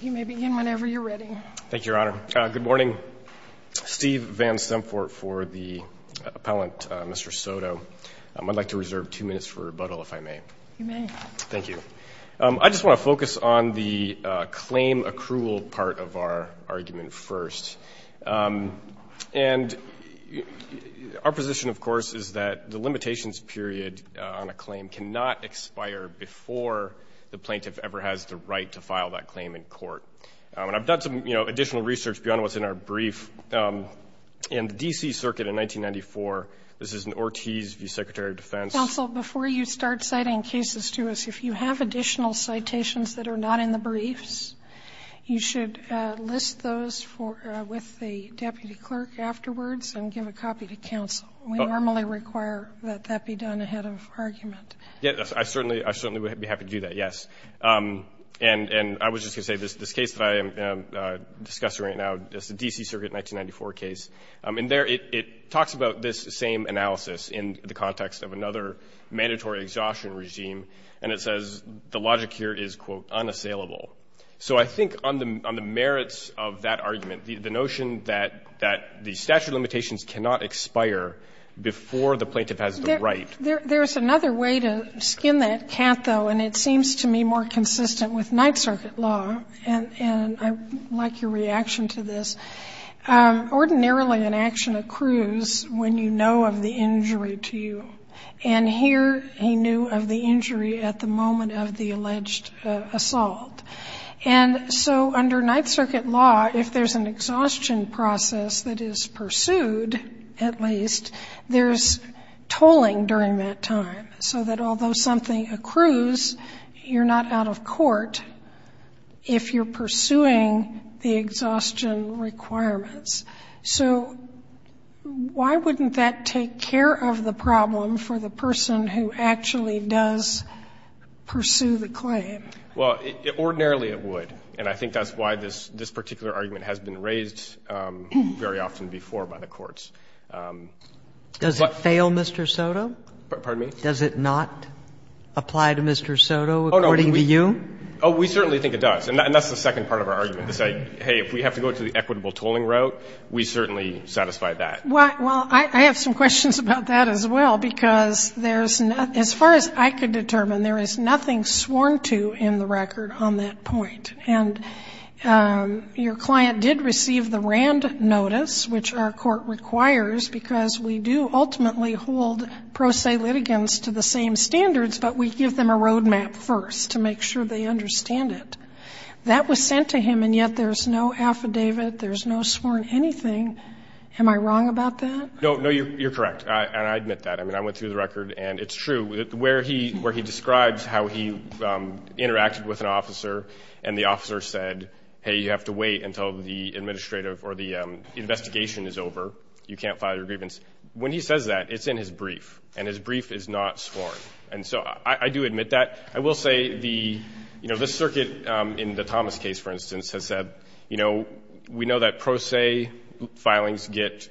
You may begin whenever you're ready. Thank you, Your Honor. Good morning. Steve Van Sempfort for the appellant, Mr. Soto. I'd like to reserve two minutes for rebuttal if I may. You may. Thank you. I just want to focus on the claim accrual part of our argument first. And our position, of course, is that the limitations period on a claim cannot expire before the plaintiff ever has the right to file that claim in court. And I've done some, you know, additional research beyond what's in our brief. In the D.C. Circuit in 1994, this is an Ortiz v. Secretary of Defense. Counsel, before you start citing cases to us, if you have additional citations that are not in the briefs, you should list those with the deputy clerk afterwards and give a copy to counsel. We normally require that that be done ahead of argument. Yes, I certainly would be happy to do that, yes. And I was just going to say, this case that I am discussing right now is the D.C. Circuit 1994 case. In there, it talks about this same analysis in the context of another mandatory exhaustion regime, and it says the logic here is, quote, unassailable. So I think on the merits of that argument, the notion that the statute of limitations cannot expire before the plaintiff has the right. There's another way to skin that cat, though, and it seems to me more consistent with Ninth Circuit law, and I like your reaction to this. Ordinarily, an action accrues when you know of the injury to you. And here, he knew of the injury at the moment of the alleged assault. And so under Ninth Circuit law, if there's an exhaustion process that is pursued, at least, there's tolling during that time, so that although something accrues, you're not out of court if you're pursuing the exhaustion requirements. So why wouldn't that take care of the problem for the person who actually does pursue the claim? Well, ordinarily it would, and I think that's why this particular argument has been raised very often before by the courts. Does it fail, Mr. Soto? Pardon me? Does it not apply to Mr. Soto according to you? Oh, we certainly think it does. And that's the second part of our argument, to say, hey, if we have to go to the equitable tolling route, we certainly satisfy that. Well, I have some questions about that as well, because there's not as far as I could determine, there is nothing sworn to in the record on that point. And your client did receive the RAND notice, which our court requires, because we do ultimately hold pro se litigants to the same standards, but we give them a roadmap first to make sure they understand it. That was sent to him, and yet there's no affidavit, there's no sworn anything. Am I wrong about that? No, no, you're correct, and I admit that. I mean, I went through the record, and it's true, where he describes how he interacted with an officer, and the officer said, hey, you have to wait until the administrative or the investigation is over, you can't file your grievance. When he says that, it's in his brief, and his brief is not sworn. And so I do admit that. I will say the, you know, this circuit in the Thomas case, for instance, has said, you know, we know that pro se filings get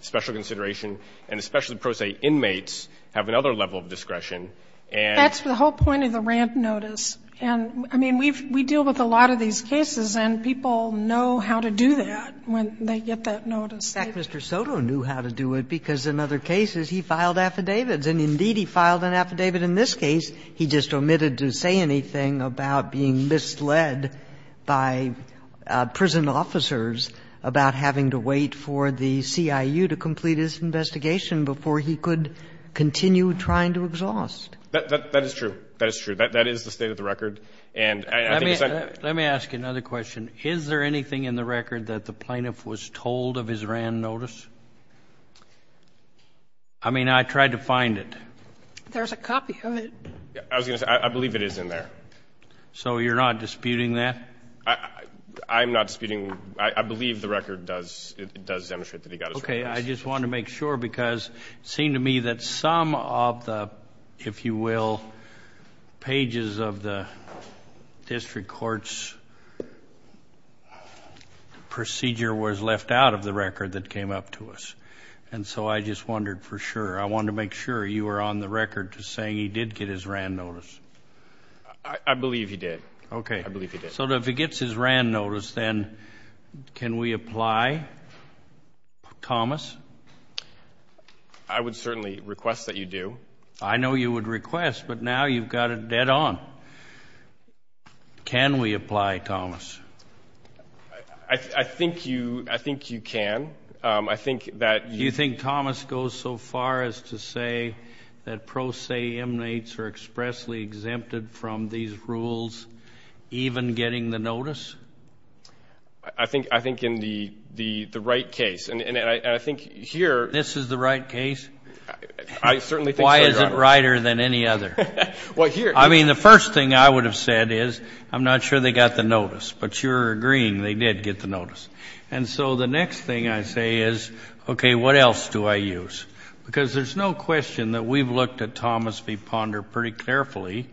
special consideration, and especially pro se inmates have another level of discretion. And that's the whole point of the RAND notice. And, I mean, we've we deal with a lot of these cases, and people know how to do that when they get that notice. In fact, Mr. Soto knew how to do it, because in other cases, he filed affidavits. And indeed, he filed an affidavit in this case. He just omitted to say anything about being misled by prison officers about having to wait for the CIU to complete his investigation before he could continue trying to exhaust. That is true. That is true. That is the state of the record. And I think it's a Let me ask you another question. Is there anything in the record that the plaintiff was told of his RAND notice? I mean, I tried to find it. There's a copy of it. I was going to say, I believe it is in there. So you're not disputing that? I'm not disputing. I believe the record does demonstrate that he got his RAND notice. I just wanted to make sure, because it seemed to me that some of the, if you will, pages of the district court's procedure was left out of the record that came up to us. And so I just wondered for sure. I wanted to make sure you were on the record to saying he did get his RAND notice. I believe he did. I believe he did. So if he gets his RAND notice, then can we apply, Thomas? I would certainly request that you do. I know you would request, but now you've got it dead on. Can we apply, Thomas? I think you can. I think that Do you think Thomas goes so far as to say that pro se MNAs are expressly exempted from these rules, even getting the notice? I think in the right case, and I think here This is the right case? I certainly think so, Your Honor. Why is it righter than any other? Well, here I mean, the first thing I would have said is, I'm not sure they got the notice. But you're agreeing they did get the notice. And so the next thing I say is, okay, what else do I use? Because there's no question that we've looked at Thomas v. Ponder pretty carefully,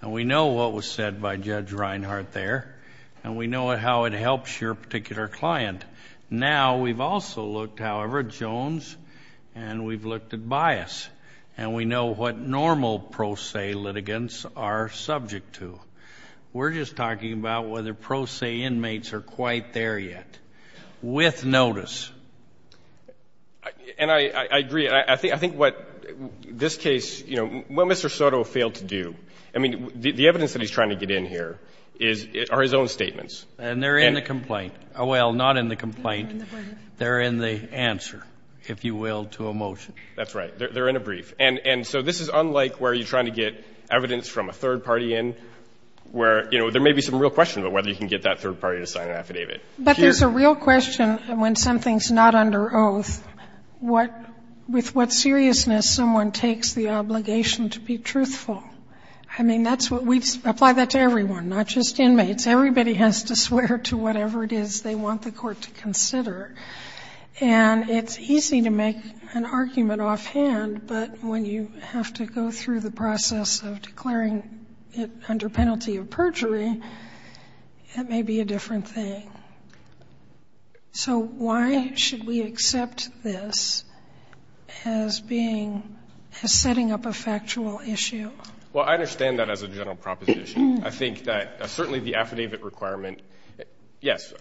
and we know what was said by Judge Reinhart there, and we know how it helps your particular client. Now we've also looked, however, at Jones, and we've looked at Bias, and we know what normal pro se litigants are subject to. We're just talking about whether pro se inmates are quite there yet, with notice. And I agree. I think what this case, you know, what Mr. Soto failed to do, I mean, the evidence that he's trying to get in here is his own statements. And they're in the complaint. Well, not in the complaint. They're in the answer, if you will, to a motion. That's right. They're in a brief. And so this is unlike where you're trying to get evidence from a third party in, where, you know, there may be some real question about whether you can get that third party to sign an affidavit. But there's a real question when something's not under oath, with what seriousness someone takes the obligation to be truthful. I mean, that's what we've – apply that to everyone, not just inmates. Everybody has to swear to whatever it is they want the court to consider. And it's easy to make an argument offhand, but when you have to go through the process of declaring it under penalty of perjury, it may be a different thing. So why should we accept this as being – as setting up a factual issue? Well, I understand that as a general proposition. I think that certainly the affidavit requirement – yes,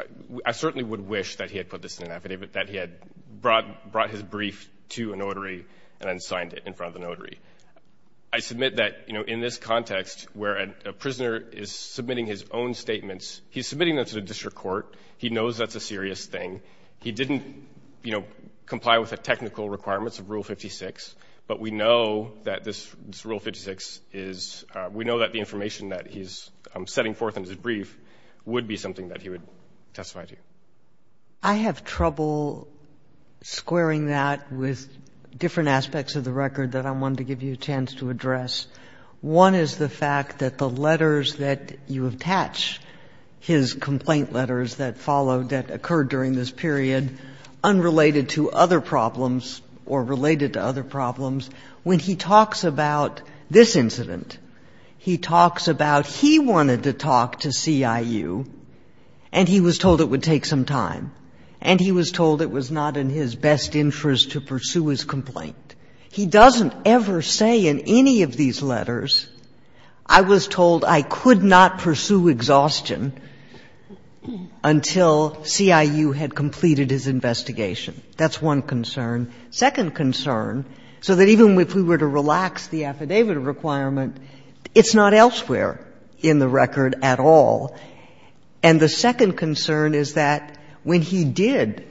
I certainly would wish that he had put this in an affidavit, that he had brought his brief to a notary and then signed it in front of the notary. I submit that, you know, in this context where a prisoner is submitting his own He knows that's a serious thing. He didn't, you know, comply with the technical requirements of Rule 56, but we know that this Rule 56 is – we know that the information that he's setting forth in his brief would be something that he would testify to. I have trouble squaring that with different aspects of the record that I wanted to give you a chance to address. One is the fact that the letters that you attach, his complaint letters that followed that occurred during this period, unrelated to other problems or related to other problems, when he talks about this incident, he talks about he wanted to talk to CIU and he was told it would take some time and he was told it was not in his best interest to pursue his complaint. He doesn't ever say in any of these letters, I was told I could not pursue exhaustion until CIU had completed his investigation. That's one concern. Second concern, so that even if we were to relax the affidavit requirement, it's not elsewhere in the record at all. And the second concern is that when he did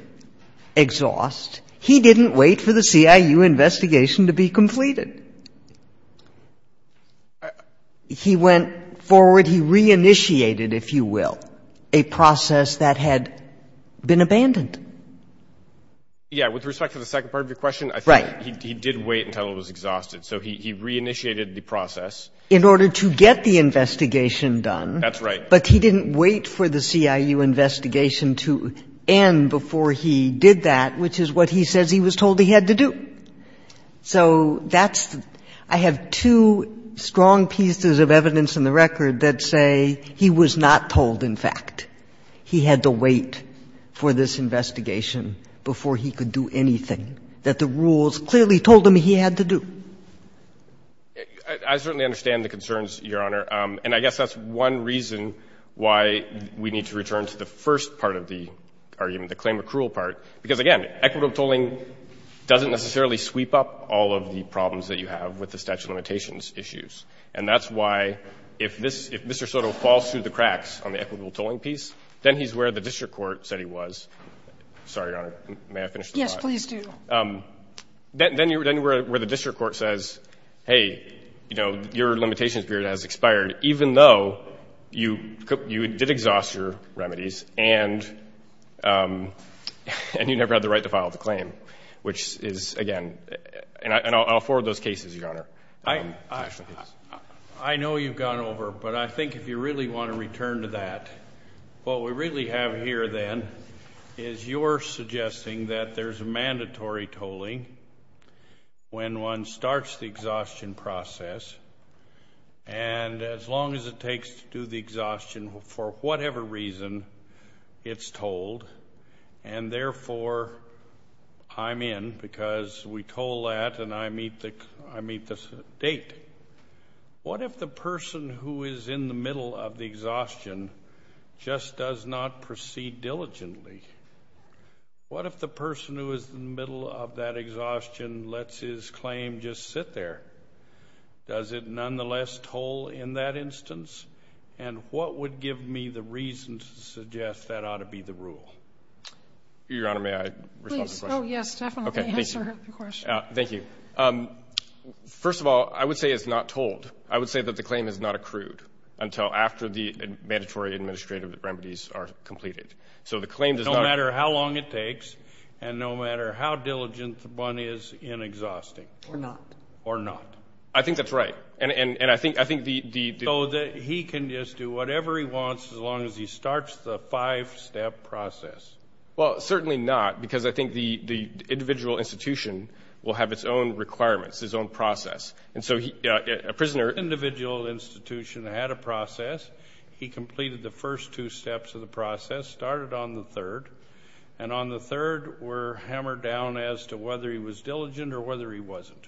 exhaust, he didn't wait for the CIU investigation to be completed. He went forward, he re-initiated, if you will, a process that had been abandoned. Yeah. With respect to the second part of your question, I think he did wait until it was exhausted. So he re-initiated the process. In order to get the investigation done. That's right. But he didn't wait for the CIU investigation to end before he did that, which is what he says he was told he had to do. So that's the – I have two strong pieces of evidence in the record that say he was not told, in fact. He had to wait for this investigation before he could do anything that the rules clearly told him he had to do. I certainly understand the concerns, Your Honor. And I guess that's one reason why we need to return to the first part of the argument, the claim of cruel part. Because, again, equitable tolling doesn't necessarily sweep up all of the problems that you have with the statute of limitations issues. And that's why if this – if Mr. Soto falls through the cracks on the equitable tolling piece, then he's where the district court said he was. Sorry, Your Honor. May I finish? Yes, please do. Then you're – then you're where the district court says, hey, you know, your remedies and you never had the right to file the claim, which is, again – and I'll forward those cases, Your Honor. I know you've gone over, but I think if you really want to return to that, what we really have here then is you're suggesting that there's a mandatory tolling when one starts the exhaustion process. And as long as it takes to do the exhaustion for whatever reason, it's tolled, and therefore, I'm in because we toll that and I meet the – I meet the date. What if the person who is in the middle of the exhaustion just does not proceed diligently? What if the person who is in the middle of that exhaustion lets his claim just sit there? Does it nonetheless toll in that instance? And what would give me the reason to suggest that ought to be the rule? Your Honor, may I respond to the question? Please. Oh, yes, definitely answer the question. Thank you. First of all, I would say it's not tolled. I would say that the claim is not accrued until after the mandatory administrative remedies are completed. So the claim does not – No matter how long it takes and no matter how diligent the one is in exhausting. Or not. Or not. I think that's right. And I think the – So that he can just do whatever he wants as long as he starts the five-step process. Well, certainly not because I think the individual institution will have its own requirements, his own process. And so a prisoner – Individual institution had a process. He completed the first two steps of the process, started on the third, and on the third were hammered down as to whether he was diligent or whether he wasn't.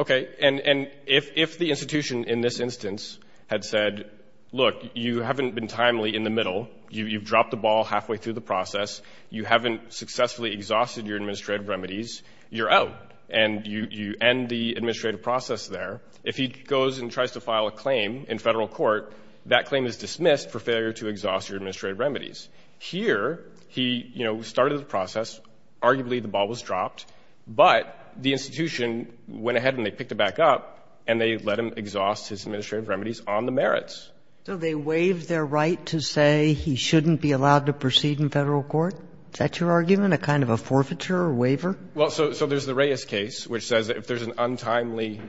Okay. And if the institution in this instance had said, look, you haven't been timely in the middle. You've dropped the ball halfway through the process. You haven't successfully exhausted your administrative remedies. You're out. And you end the administrative process there. If he goes and tries to file a claim in federal court, that claim is dismissed for failure to exhaust your administrative remedies. Here, he started the process. Arguably, the ball was dropped. But the institution went ahead and they picked it back up and they let him exhaust his administrative remedies on the merits. So they waived their right to say he shouldn't be allowed to proceed in federal court? Is that your argument? A kind of a forfeiture or waiver? Well, so there's the Reyes case, which says if there's an untimely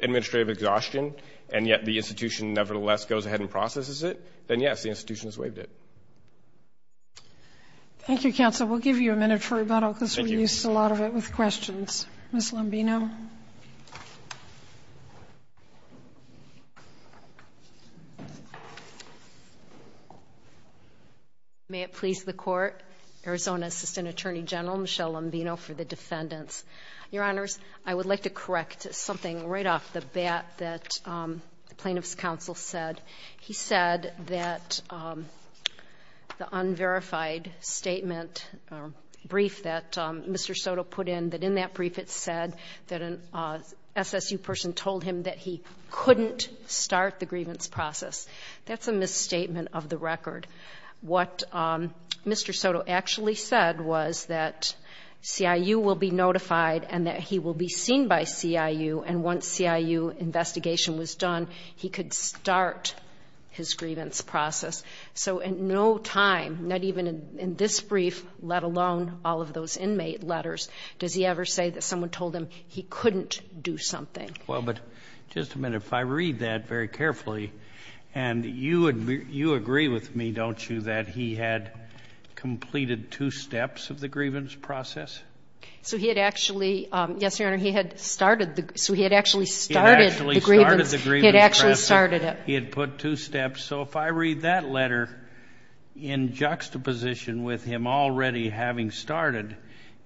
administrative exhaustion and yet the institution nevertheless goes ahead and processes it, then yes, the institution has waived it. Thank you, counsel. We'll give you a minute for rebuttal because we're used to a lot of it with questions. Ms. Lombino? May it please the court, Arizona Assistant Attorney General Michelle Lombino for the defendants. Your honors, I would like to correct something right off the bat that the plaintiff's counsel said. He said that the unverified statement or brief that Mr. Soto put in, that in that brief it said that an SSU person told him that he couldn't start the grievance process. That's a misstatement of the record. What Mr. Soto actually said was that CIU will be notified and that he will be seen by CIU and once CIU investigation was done, he could start his grievance process. So in no time, not even in this brief, let alone all of those inmate letters, does he ever say that someone told him he couldn't do something? Well, but just a minute. If I read that very carefully and you agree with me, don't you, that he had completed two steps of the grievance process? So he had actually, yes, your honor, he had started, so he had actually started the grievance, he had actually started it. He had put two steps. So if I read that letter in juxtaposition with him already having started,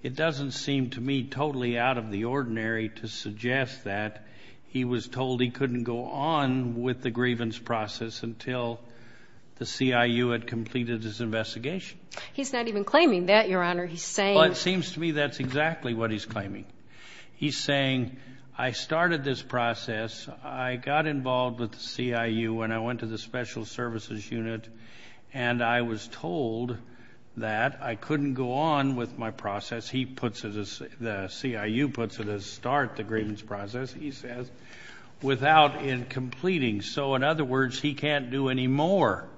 it doesn't seem to me totally out of the ordinary to suggest that he was told he couldn't go on with the grievance process until the CIU had completed his investigation. He's not even claiming that, your honor. But it seems to me that's exactly what he's claiming. He's saying, I started this process. I got involved with the CIU when I went to the special services unit and I was told that I couldn't go on with my process. He puts it, the CIU puts it as start the grievance process, he says, without completing. So in other words, he can't do any more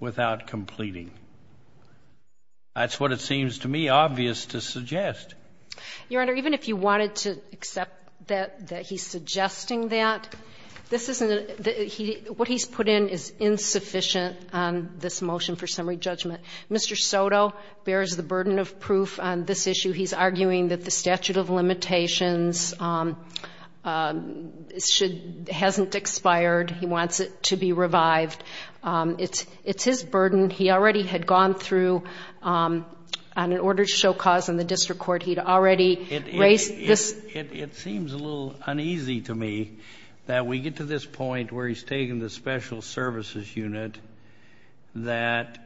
without completing. That's what it seems to me obvious to suggest. Your honor, even if you wanted to accept that, that he's suggesting that, this isn't, what he's put in is insufficient on this motion for summary judgment. Mr. Soto bears the burden of proof on this issue. He's arguing that the statute of limitations should, hasn't expired. He wants it to be revived. It's, it's his burden. He already had gone through an order to show cause in the district court. He'd already raised this. It seems a little uneasy to me that we get to this point where he's taking the special services unit that,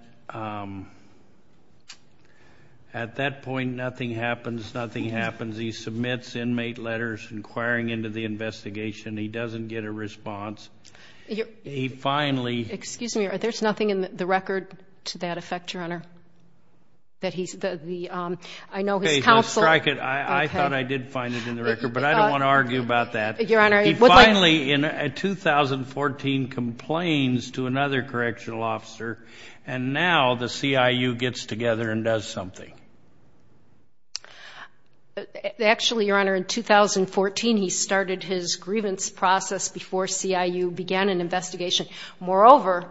at that point, nothing happens. Nothing happens. He submits inmate letters inquiring into the investigation. He doesn't get a response. He finally. Excuse me. There's nothing in the record to that effect, your honor. That he's the, the, um, I know his counsel. Okay, let's strike it. I thought I did find it in the record, but I don't want to argue about that. Your honor. He finally, in 2014, complains to another correctional officer and now the CIU gets together and does something. Actually, your honor, in 2014, he started his grievance process before CIU began an investigation. Moreover,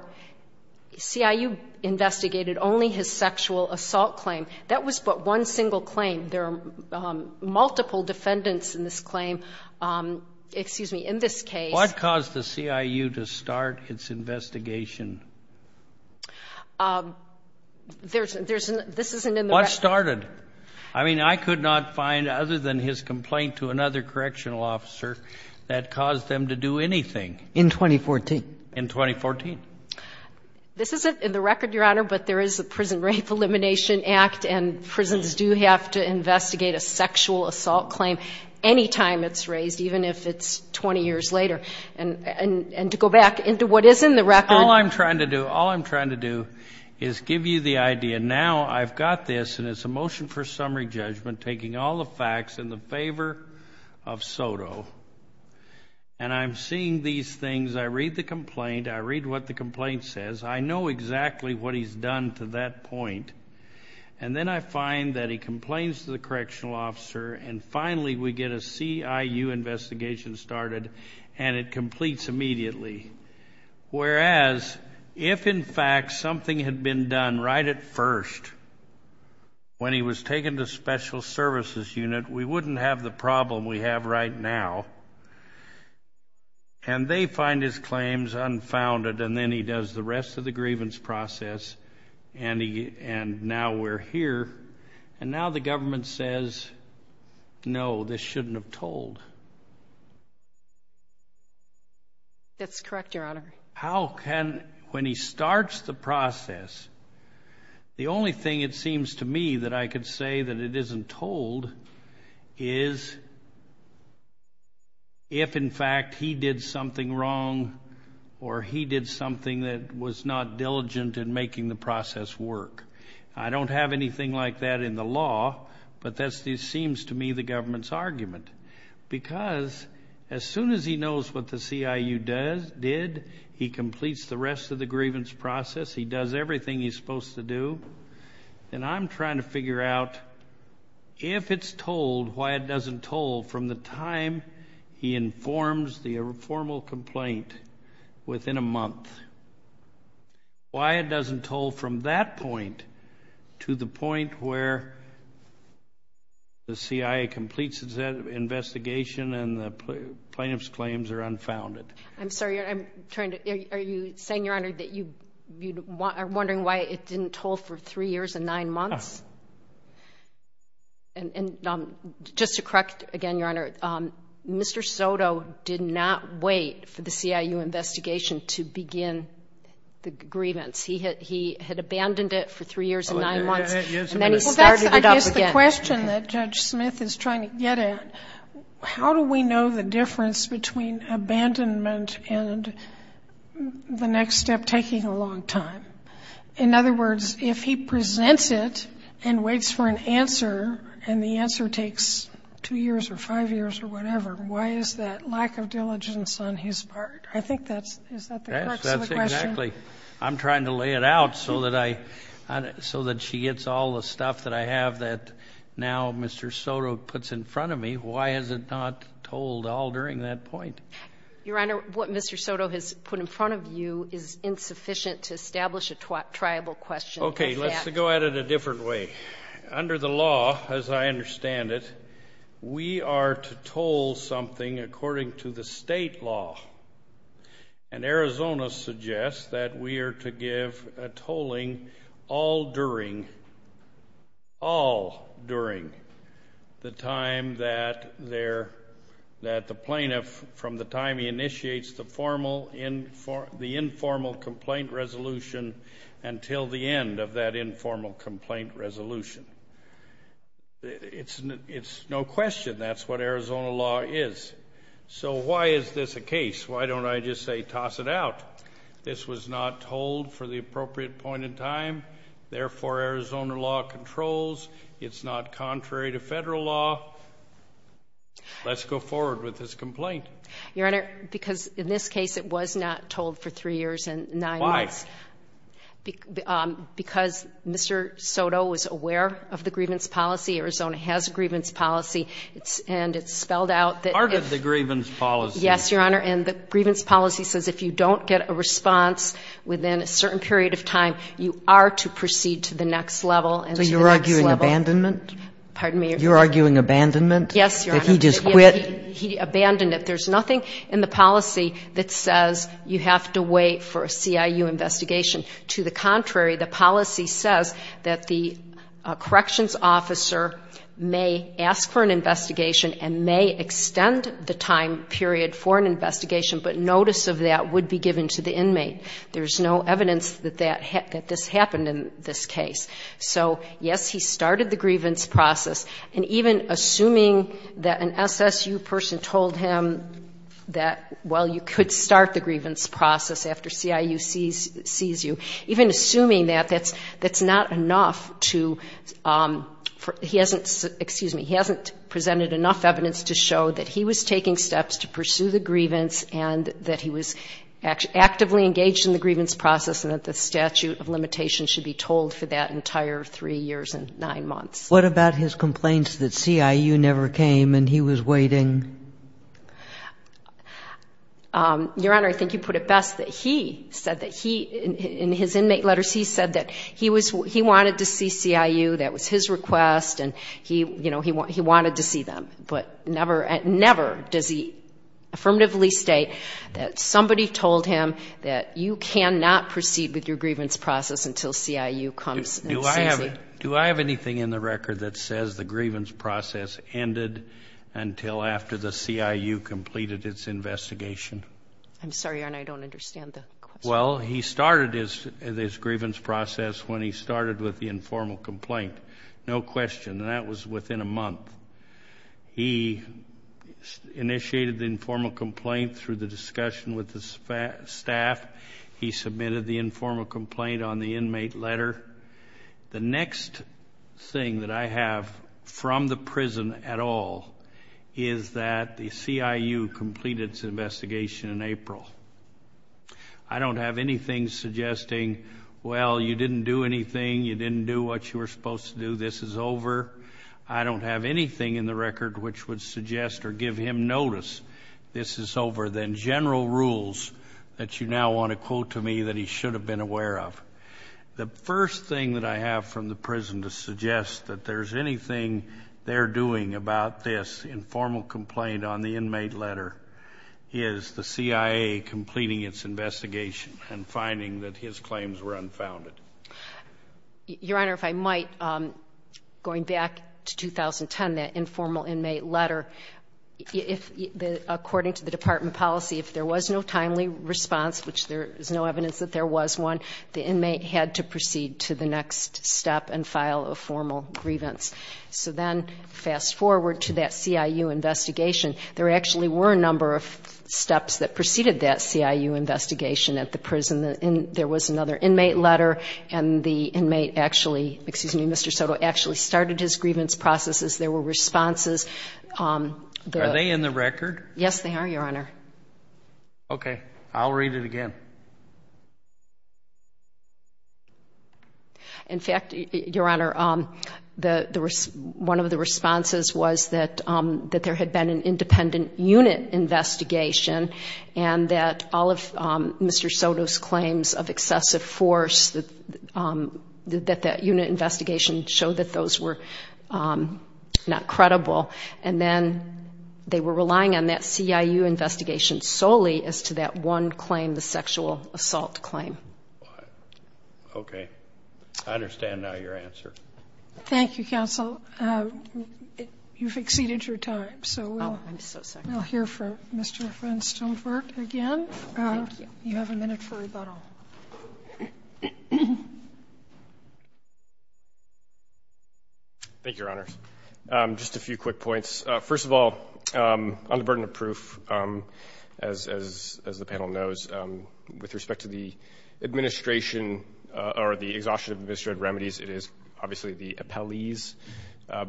CIU investigated only his sexual assault claim. That was but one single claim. There are multiple defendants in this claim. Excuse me. In this case. What caused the CIU to start its investigation? There's, there's, this isn't in the record. What started? I mean, I could not find other than his complaint to another correctional officer that caused them to do anything. In 2014. In 2014. This isn't in the record, your honor, but there is a Prison Rape Elimination Act and prisons do have to investigate a sexual assault claim anytime it's raised, even if it's 20 years later. And, and, and to go back into what is in the record. All I'm trying to do, all I'm trying to do is give you the idea. Now I've got this and it's a motion for summary judgment, taking all the facts in the favor of Soto. And I'm seeing these things. I read the complaint. I read what the complaint says. I know exactly what he's done to that point. And then I find that he complains to the correctional officer and finally we get a CIU investigation started and it completes immediately. Whereas if in fact something had been done right at first, when he was taken to special services unit, we wouldn't have the problem we have right now. And they find his claims unfounded and then he does the rest of the grievance process and he, and now we're here and now the government says, no, this shouldn't have told. That's correct, your honor. How can, when he starts the process, the only thing it seems to me that I could say that it isn't told is if in fact he did something wrong or he did something that was not diligent in making the process work. I don't have anything like that in the law, but that seems to me the government's argument. Because as soon as he knows what the CIU did, he completes the rest of the grievance process. He does everything he's supposed to do. And I'm trying to figure out if it's told, why it doesn't toll from the time he informs the formal complaint within a month. Why it doesn't toll from that point to the point where the CIA completes that investigation and the plaintiff's claims are unfounded. I'm sorry, I'm trying to, are you saying, your honor, that you are wondering why it didn't toll for three years and nine months? And just to correct again, your honor, Mr. Soto did not wait for the CIU investigation to begin the grievance. He had abandoned it for three years and nine months and then he started it up again. I guess the question that Judge Smith is trying to get at, how do we know the difference between abandonment and the next step taking a long time? In other words, if he presents it and waits for an answer and the answer takes two years or five years or whatever, why is that lack of diligence on his part? I think that's, is that the crux of the question? Yes, that's exactly. I'm trying to lay it out so that I, so that she gets all the stuff that I have that now Mr. Soto puts in front of me. Why has it not tolled all during that point? Your honor, what Mr. Soto has put in front of you is insufficient to establish a triable question. Okay, let's go at it a different way. Under the law, as I understand it, we are to toll something according to the state law and Arizona suggests that we are to give a tolling all during, all during the time that there, that the plaintiff, from the time he initiates the formal, the informal complaint resolution until the end of that informal complaint resolution. It's, it's no question that's what Arizona law is. So why is this a case? Why don't I just say toss it out? This was not tolled for the appropriate point in time, therefore Arizona law controls, it's not contrary to federal law. Let's go forward with this complaint. Your honor, because in this case it was not tolled for three years and nine months. Because Mr. Soto was aware of the grievance policy. Arizona has a grievance policy. It's, and it's spelled out that. Part of the grievance policy. Yes, your honor. And the grievance policy says if you don't get a response within a certain period of time, you are to proceed to the next level. So you're arguing abandonment? Pardon me? You're arguing abandonment? Yes, your honor. That he just quit? He abandoned it. There's nothing in the policy that says you have to wait for a CIU investigation. To the contrary, the policy says that the corrections officer may ask for an investigation and may extend the time period for an investigation, but notice of that would be given to the inmate. There's no evidence that that, that this happened in this case. So yes, he started the grievance process. And even assuming that an SSU person told him that, well, you could start the grievance process after CIU sees you. Even assuming that, that's not enough to, he hasn't, excuse me, he hasn't presented enough evidence to show that he was taking steps to pursue the grievance and that he was actively engaged in the grievance process and that the statute of limitations should be told for that entire three years and nine months. What about his complaints that CIU never came and he was waiting? Your honor, I think you put it best that he said that he, in his inmate letters, he said that he was, he wanted to see CIU. That was his request. And he, you know, he, he wanted to see them, but never, never does he affirmatively state that somebody told him that you cannot proceed with your grievance process until CIU comes. Do I have anything in the record that says the grievance process ended until after the CIU completed its investigation? I'm sorry, your honor, I don't understand the question. Well, he started his, his grievance process when he started with the informal complaint. No question. That was within a month. He initiated the informal complaint through the discussion with the staff. He submitted the informal complaint on the inmate letter. The next thing that I have from the prison at all is that the CIU completed its investigation in April. I don't have anything suggesting, well, you didn't do anything. You didn't do what you were supposed to do. This is over. I don't have anything in the record, which would suggest or give him notice. This is over. Then general rules that you now want to quote to me that he should have been aware of. The first thing that I have from the prison to suggest that there's anything they're doing about this informal complaint on the inmate letter is the CIA completing its investigation and finding that his claims were unfounded. Your Honor, if I might, going back to 2010, that informal inmate letter, if the, according to the department policy, if there was no timely response, which there is no evidence that there was one, the inmate had to proceed to the next step and file a formal grievance. So then fast forward to that CIU investigation, there actually were a number of steps that preceded that CIU investigation at the prison. There was another inmate letter and the inmate actually, excuse me, Mr. Soto actually started his grievance processes. There were responses. Are they in the record? Yes, they are, Your Honor. Okay. I'll read it again. In fact, Your Honor, one of the responses was that there had been an independent unit investigation and that all of Mr. Soto's claims of excessive force, that that unit investigation showed that those were not credible. And then they were relying on that CIU investigation solely as to that one claim, the sexual assault claim. Okay. I understand now your answer. Thank you, counsel. You've exceeded your time. So we'll hear from Mr. Flintstone-Ford again. Thank you. You have a minute for rebuttal. Thank you, Your Honor. Just a few quick points. First of all, on the burden of proof, as the panel knows, with respect to the administration or the exhaustion of administrative remedies, it is obviously the appellee's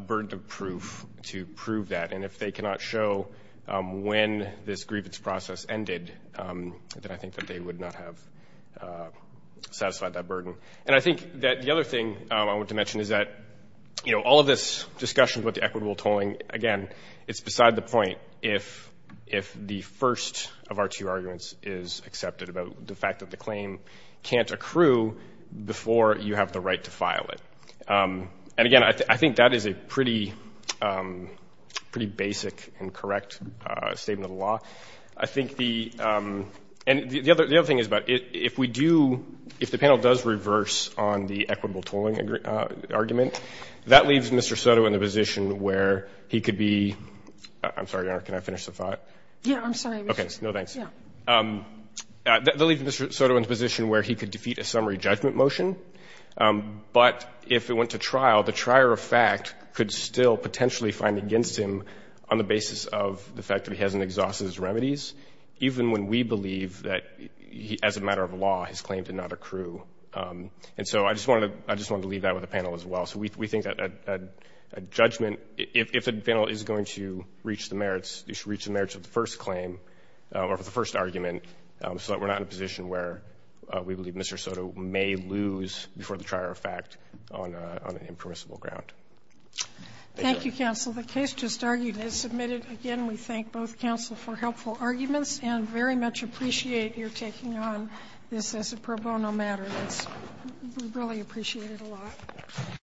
burden of proof to prove that. And if they cannot show when this grievance process ended, then I think that they would not have satisfied that burden. And I think that the other thing I want to mention is that all of this discussion with the equitable tolling, again, it's beside the point if the first of our two arguments is accepted about the fact that the claim can't accrue before you have the right to file it. And again, I think that is a pretty basic and correct statement of the law. I think the other thing is about if we do, if the panel does reverse on the equitable tolling argument, that leaves Mr. Soto in a position where he could be — I'm sorry, Your Honor, can I finish the thought? Yeah. I'm sorry. Okay. No, thanks. Yeah. That leaves Mr. Soto in a position where he could defeat a summary judgment motion, but if it went to trial, the trier of fact could still potentially find against him on the basis of the fact that he hasn't exhausted his remedies, even when we believe that as a matter of law, his claim did not accrue. And so I just wanted to leave that with the panel as well. So we think that a judgment, if the panel is going to reach the merits, they should reach the merits of the first claim or of the first argument so that we're not in a before the trier of fact on an impermissible ground. Thank you, counsel. The case just argued is submitted. Again, we thank both counsel for helpful arguments and very much appreciate your taking on this as a pro bono matter. It's — we really appreciate it a lot.